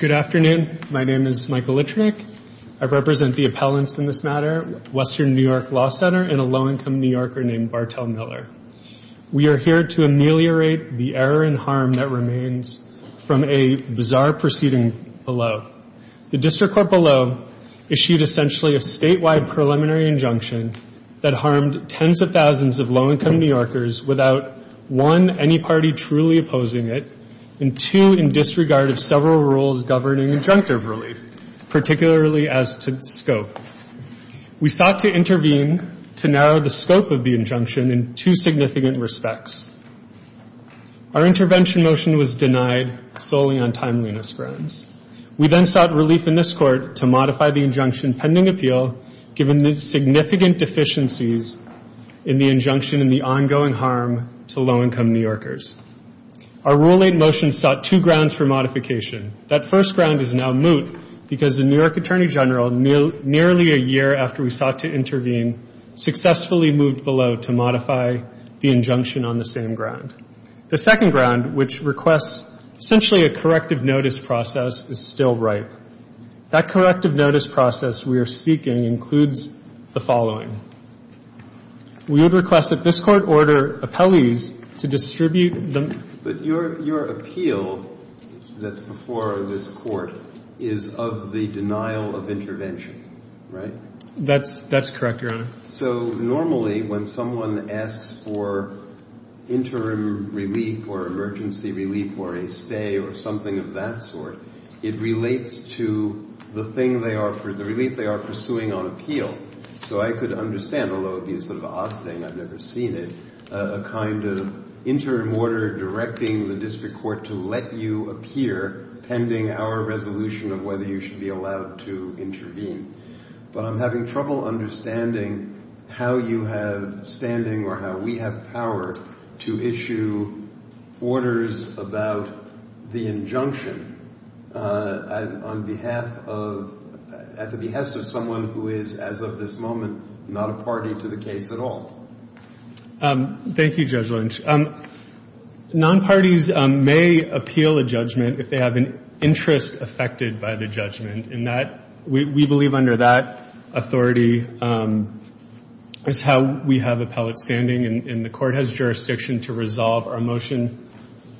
Good afternoon. My name is Michael Litvinick. I represent the appellants in this matter, Western New York Law Center, and a low-income New Yorker named Bartell Miller. We are here to ameliorate the error and harm that remains from a bizarre proceeding below. The District Court below issued essentially a statewide preliminary injunction that harmed tens of thousands of low-income New Yorkers without, one, any party truly opposing it, and two, in disregard of several rules governing injunctive relief, particularly as to scope. We sought to intervene to narrow the scope of the injunction in two significant respects. Our intervention motion was denied solely on timeliness grounds. We then sought relief in this Court to modify the injunction pending appeal given the significant deficiencies in the injunction and the ongoing harm to low-income New Yorkers. Our Rule 8 motion sought two grounds for modification. That first ground is now moot because the New York Attorney General, nearly a year after we sought to intervene, successfully moved below to modify the injunction on the same ground. The second ground, which requests essentially a corrective notice process, is still ripe. That corrective notice process we are seeking includes the following. We would request that this Court order appellees to distribute the ---- But your appeal that's before this Court is of the denial of intervention, right? That's correct, Your Honor. So normally when someone asks for interim relief or emergency relief or a stay or something of that sort, it relates to the thing they are ---- the relief they are pursuing on appeal. So I could understand, although it would be sort of an odd thing, I've never seen it, a kind of interim order directing the district court to let you appear pending our resolution of whether you should be allowed to intervene. But I'm having trouble understanding how you have standing or how we have power to issue orders about the injunction on behalf of ---- at the behest of someone who is, as of this moment, not a party to the case at all. Thank you, Judge Lynch. Nonparties may appeal a judgment if they have an interest affected by the judgment. And that we believe under that authority is how we have appellate standing. And the Court has jurisdiction to resolve our motion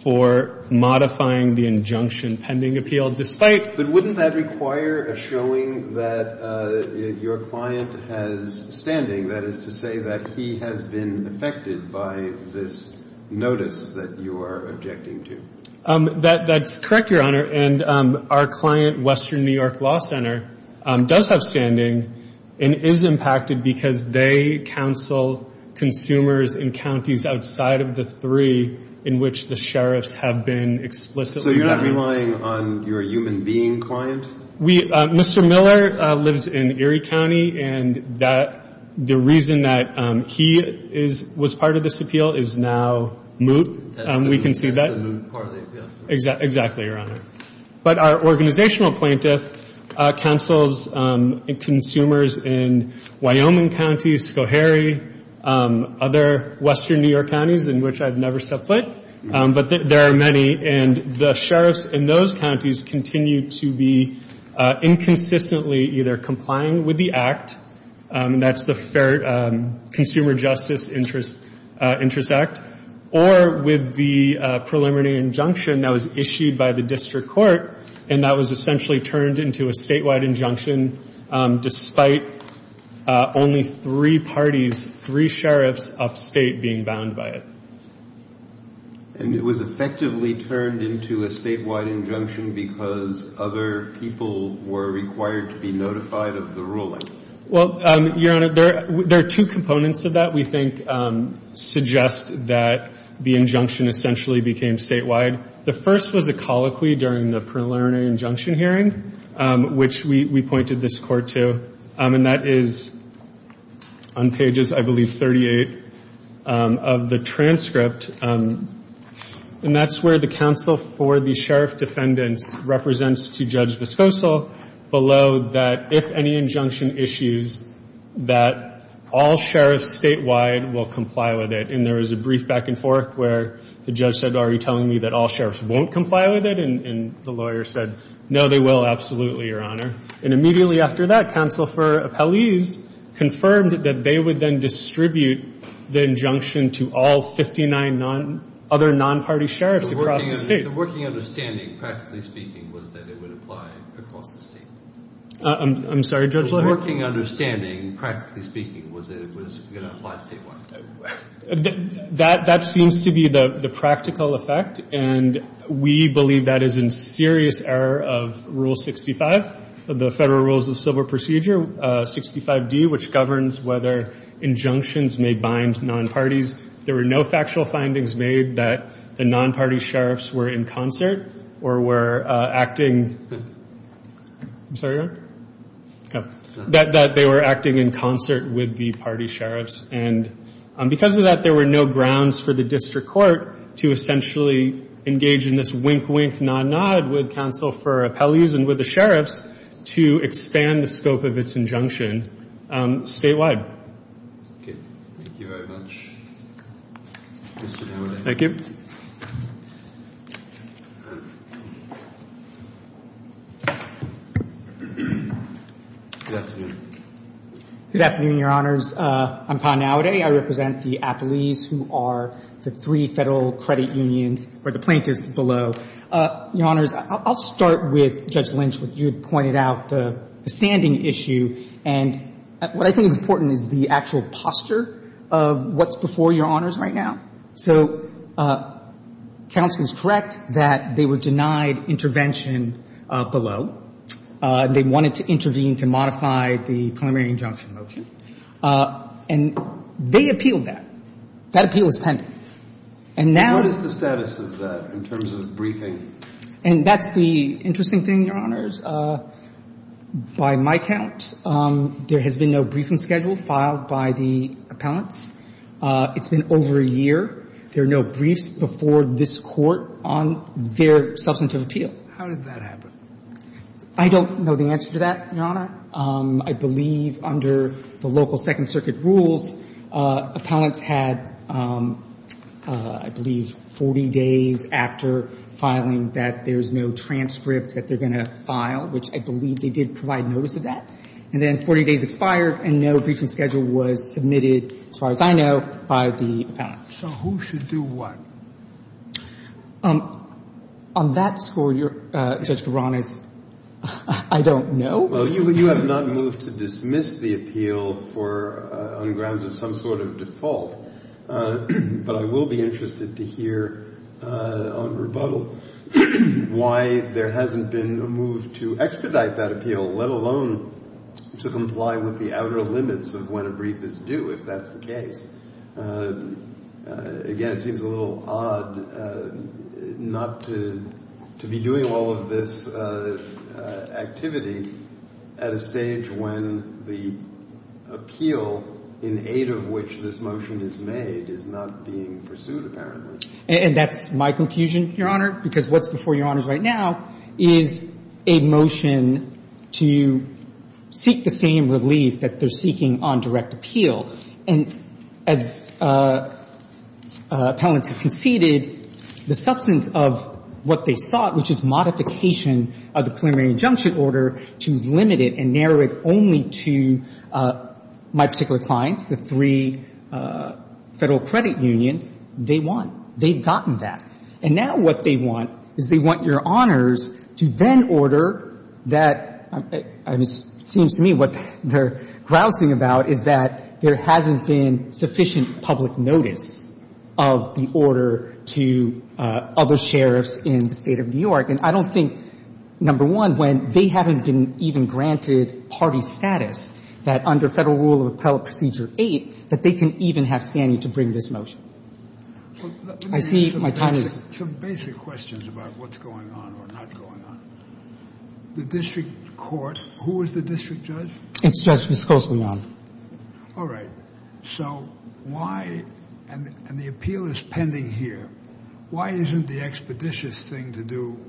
for modifying the injunction pending appeal, despite ---- that you are objecting to. That's correct, Your Honor. And our client, Western New York Law Center, does have standing and is impacted because they counsel consumers in counties outside of the three in which the sheriffs have been explicitly ---- So you're not relying on your human being client? Mr. Miller lives in Erie County and the reason that he was part of this appeal is now moot. We can see that. Exactly, Your Honor. But our organizational plaintiff counsels consumers in Wyoming County, Schoharie, other western New York counties in which I've never set foot. But there are many. And the sheriffs in those counties continue to be inconsistently either complying with the Act, and that's the Fair Consumer Justice Interest Act, or with the preliminary injunction that was issued by the district court, and that was essentially turned into a statewide injunction despite only three parties, three sheriffs upstate being bound by it. And it was effectively turned into a statewide injunction because other people were required to be notified of the ruling? Well, Your Honor, there are two components of that we think suggest that the injunction essentially became statewide. The first was a colloquy during the preliminary injunction hearing, which we pointed this court to, and that is on pages, I believe, 38 of the transcript. And that's where the counsel for the sheriff defendants represents to Judge Vesposal below that, if any injunction issues, that all sheriffs statewide will comply with it. And there was a brief back and forth where the judge said, are you telling me that all sheriffs won't comply with it? And the lawyer said, no, they will absolutely, Your Honor. And immediately after that, counsel for appellees confirmed that they would then distribute the injunction to all 59 other non-party sheriffs across the state. The working understanding, practically speaking, was that it would apply across the state? I'm sorry, Judge? The working understanding, practically speaking, was that it was going to apply statewide? That seems to be the practical effect, and we believe that is in serious error of Rule 65 of the Federal Rules of Civil Procedure, 65D, which governs whether injunctions may bind non-parties. There were no factual findings made that the non-party sheriffs were in concert or were acting – I'm sorry, Your Honor? That they were acting in concert with the party sheriffs. And because of that, there were no grounds for the district court to essentially engage in this wink, wink, nod, nod with counsel for appellees and with the sheriffs to expand the scope of its injunction statewide. Okay. Thank you very much. Thank you. Good afternoon. Good afternoon, Your Honors. I'm Pa Naude. I represent the appellees who are the three Federal credit unions or the plaintiffs below. Your Honors, I'll start with Judge Lynch, what you had pointed out, the standing issue. And what I think is important is the actual posture of what's before Your Honors right now. So counsel is correct that they were denied intervention below. They wanted to intervene to modify the primary injunction motion. And they appealed that. That appeal is pending. And now – What is the status of that in terms of briefing? And that's the interesting thing, Your Honors. By my count, there has been no briefing schedule filed by the appellants. It's been over a year. There are no briefs before this Court on their substantive appeal. How did that happen? I don't know the answer to that, Your Honor. I believe under the local Second Circuit rules, appellants had, I believe, 40 days after filing that there's no transcript that they're going to file, which I believe they did provide notice of that. And then 40 days expired and no briefing schedule was submitted, as far as I know, by the appellants. So who should do what? On that score, Judge Garanis, I don't know. Well, you have not moved to dismiss the appeal on grounds of some sort of default. But I will be interested to hear on rebuttal why there hasn't been a move to expedite that appeal, let alone to comply with the outer limits of when a brief is due, if that's the case. Again, it seems a little odd not to be doing all of this activity at a stage when the appeal, in aid of which this motion is made, is not being pursued, apparently. And that's my confusion, Your Honor, because what's before Your Honors right now is a motion to seek the same relief that they're seeking on direct appeal. And as appellants have conceded, the substance of what they sought, which is modification of the preliminary injunction order to limit it and narrow it only to my particular clients, the three Federal credit unions, they want. They've gotten that. And now what they want is they want Your Honors to then order that. It seems to me what they're grousing about is that there hasn't been sufficient public notice of the order to other sheriffs in the State of New York. And I don't think, number one, when they haven't been even granted party status that under Federal Rule of Appellate Procedure 8, that they can even have standing to bring this motion. I see my time is up. Let me ask you some basic questions about what's going on or not going on. The district court, who is the district judge? It's Judge Ms. Koslian. All right. So why, and the appeal is pending here, why isn't the expeditious thing to do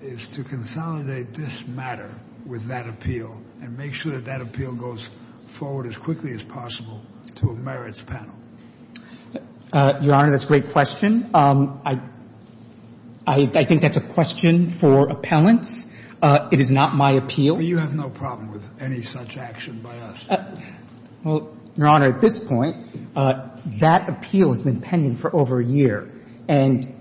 is to consolidate this matter with that appeal and make sure that that appeal goes forward as quickly as possible to a merits panel? Your Honor, that's a great question. I think that's a question for appellants. It is not my appeal. But you have no problem with any such action by us? Well, Your Honor, at this point, that appeal has been pending for over a year. And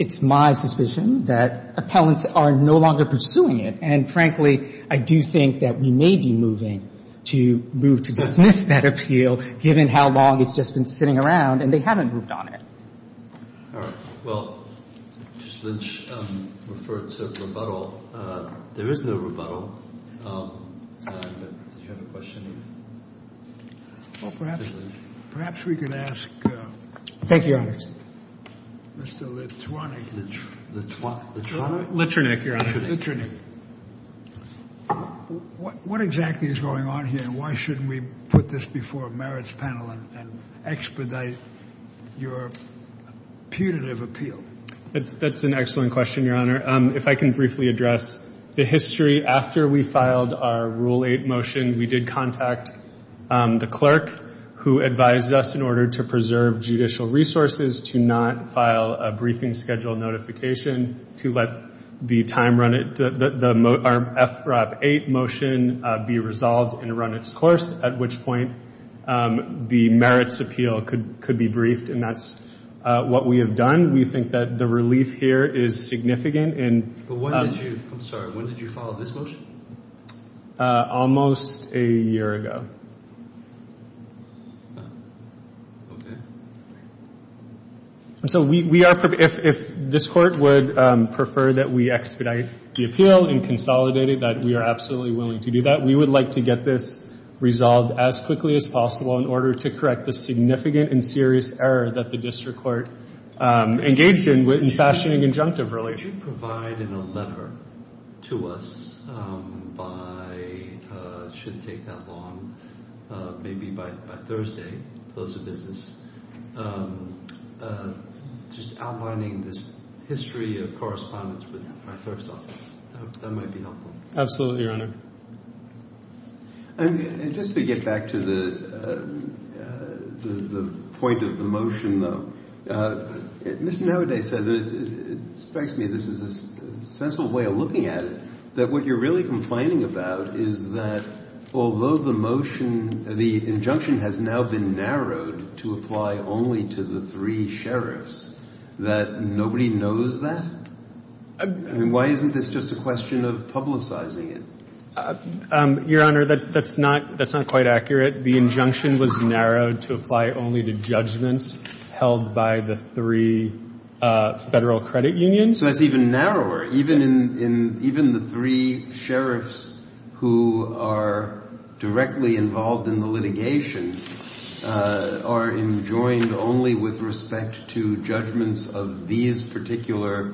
it's my suspicion that appellants are no longer pursuing it. And, frankly, I do think that we may be moving to move to dismiss that appeal given how long it's just been sitting around and they haven't moved on it. All right. Well, Judge Lynch referred to rebuttal. There is no rebuttal. Do you have a question? Well, perhaps we could ask Mr. Litwanek. Litwanek? Litwanek, Your Honor. Litwanek. What exactly is going on here? And why shouldn't we put this before a merits panel and expedite your punitive appeal? That's an excellent question, Your Honor. If I can briefly address the history. After we filed our Rule 8 motion, we did contact the clerk who advised us in order to preserve judicial resources, to not file a briefing schedule notification to let the time run it, the FROP 8 motion be resolved and run its course, at which point the merits appeal could be briefed. And that's what we have done. We think that the relief here is significant. When did you file this motion? Almost a year ago. Okay. So we are, if this Court would prefer that we expedite the appeal and consolidate it, that we are absolutely willing to do that, we would like to get this resolved as quickly as possible in order to correct the significant and serious error that the district court engaged in in fashioning injunctive relations. Would you provide in a letter to us by, it shouldn't take that long, maybe by Thursday, close of business, just outlining this history of correspondence with my clerk's office? That might be helpful. Absolutely, Your Honor. And just to get back to the point of the motion, though, Mr. Navaday says, and it strikes me this is a sensible way of looking at it, that what you're really complaining about is that although the motion, the injunction has now been narrowed to apply only to the three sheriffs, that nobody knows that? I mean, why isn't this just a question of publicizing it? Your Honor, that's not quite accurate. The injunction was narrowed to apply only to judgments held by the three Federal Credit Unions. So that's even narrower. Even the three sheriffs who are directly involved in the litigation are enjoined only with respect to judgments of these particular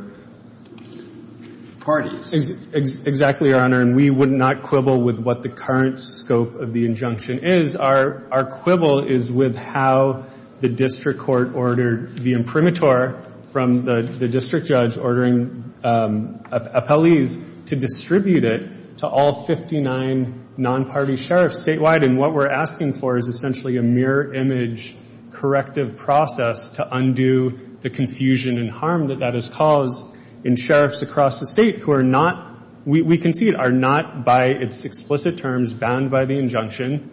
parties. Exactly, Your Honor. And we would not quibble with what the current scope of the injunction is. Our quibble is with how the district court ordered the imprimatur from the district judge, ordering appellees to distribute it to all 59 non-party sheriffs statewide. And what we're asking for is essentially a mirror image corrective process to undo the confusion and harm that that has caused in sheriffs across the state who are not, we concede, are not by its explicit terms bound by the injunction,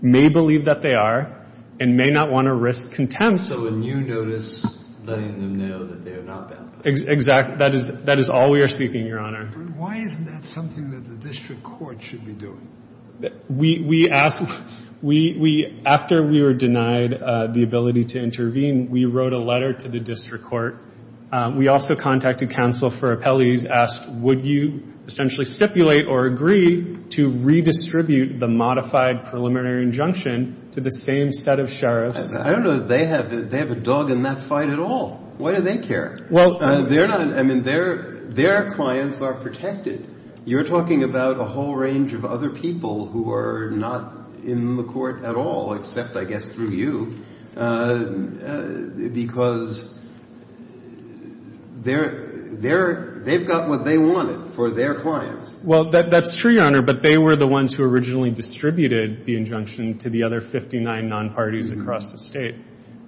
may believe that they are, and may not want to risk contempt. So a new notice letting them know that they are not bound by it. Exactly. That is all we are seeking, Your Honor. But why isn't that something that the district court should be doing? We asked, after we were denied the ability to intervene, we wrote a letter to the district court. We also contacted counsel for appellees, asked, would you essentially stipulate or agree to redistribute the modified preliminary injunction to the same set of sheriffs? I don't know that they have a dog in that fight at all. Why do they care? Well, they're not, I mean, their clients are protected. You're talking about a whole range of other people who are not in the court at all, except, I guess, through you, because they've got what they wanted for their clients. Well, that's true, Your Honor, but they were the ones who originally distributed the injunction to the other 59 non-parties across the state.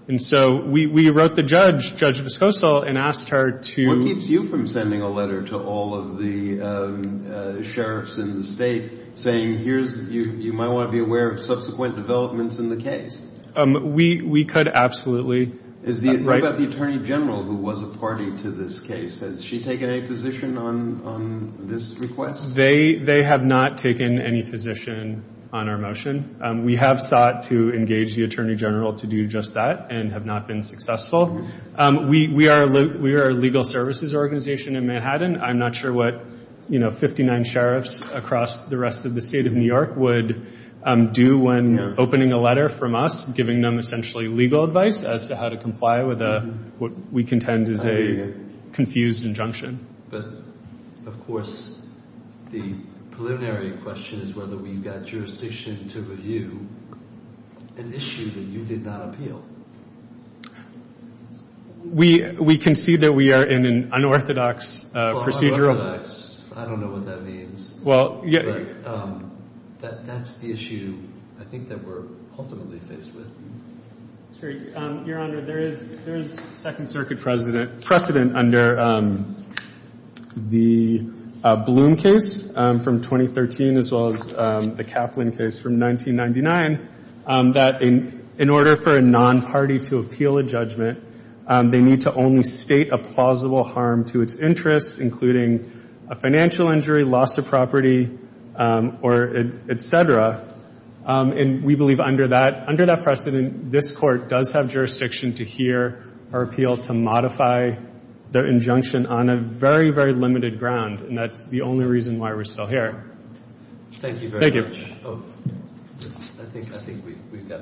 And so we wrote the judge, Judge Discosol, and asked her to. What keeps you from sending a letter to all of the sheriffs in the state saying, you might want to be aware of subsequent developments in the case? We could absolutely. What about the attorney general who was a party to this case? Has she taken any position on this request? They have not taken any position on our motion. We have sought to engage the attorney general to do just that and have not been successful. We are a legal services organization in Manhattan. I'm not sure what 59 sheriffs across the rest of the state of New York would do when opening a letter from us, giving them essentially legal advice as to how to comply with what we contend is a confused injunction. But, of course, the preliminary question is whether we've got jurisdiction to review an issue that you did not appeal. We concede that we are in an unorthodox procedural. Well, unorthodox, I don't know what that means. That's the issue I think that we're ultimately faced with. Your Honor, there is Second Circuit precedent under the Bloom case from 2013 as well as the Kaplan case from 1999 that in order for a non-party to appeal a judgment, they need to only state a plausible harm to its interests, including a financial injury, loss of property, et cetera. And we believe under that precedent, this Court does have jurisdiction to hear or appeal to modify the injunction on a very, very limited ground. And that's the only reason why we're still here. Thank you.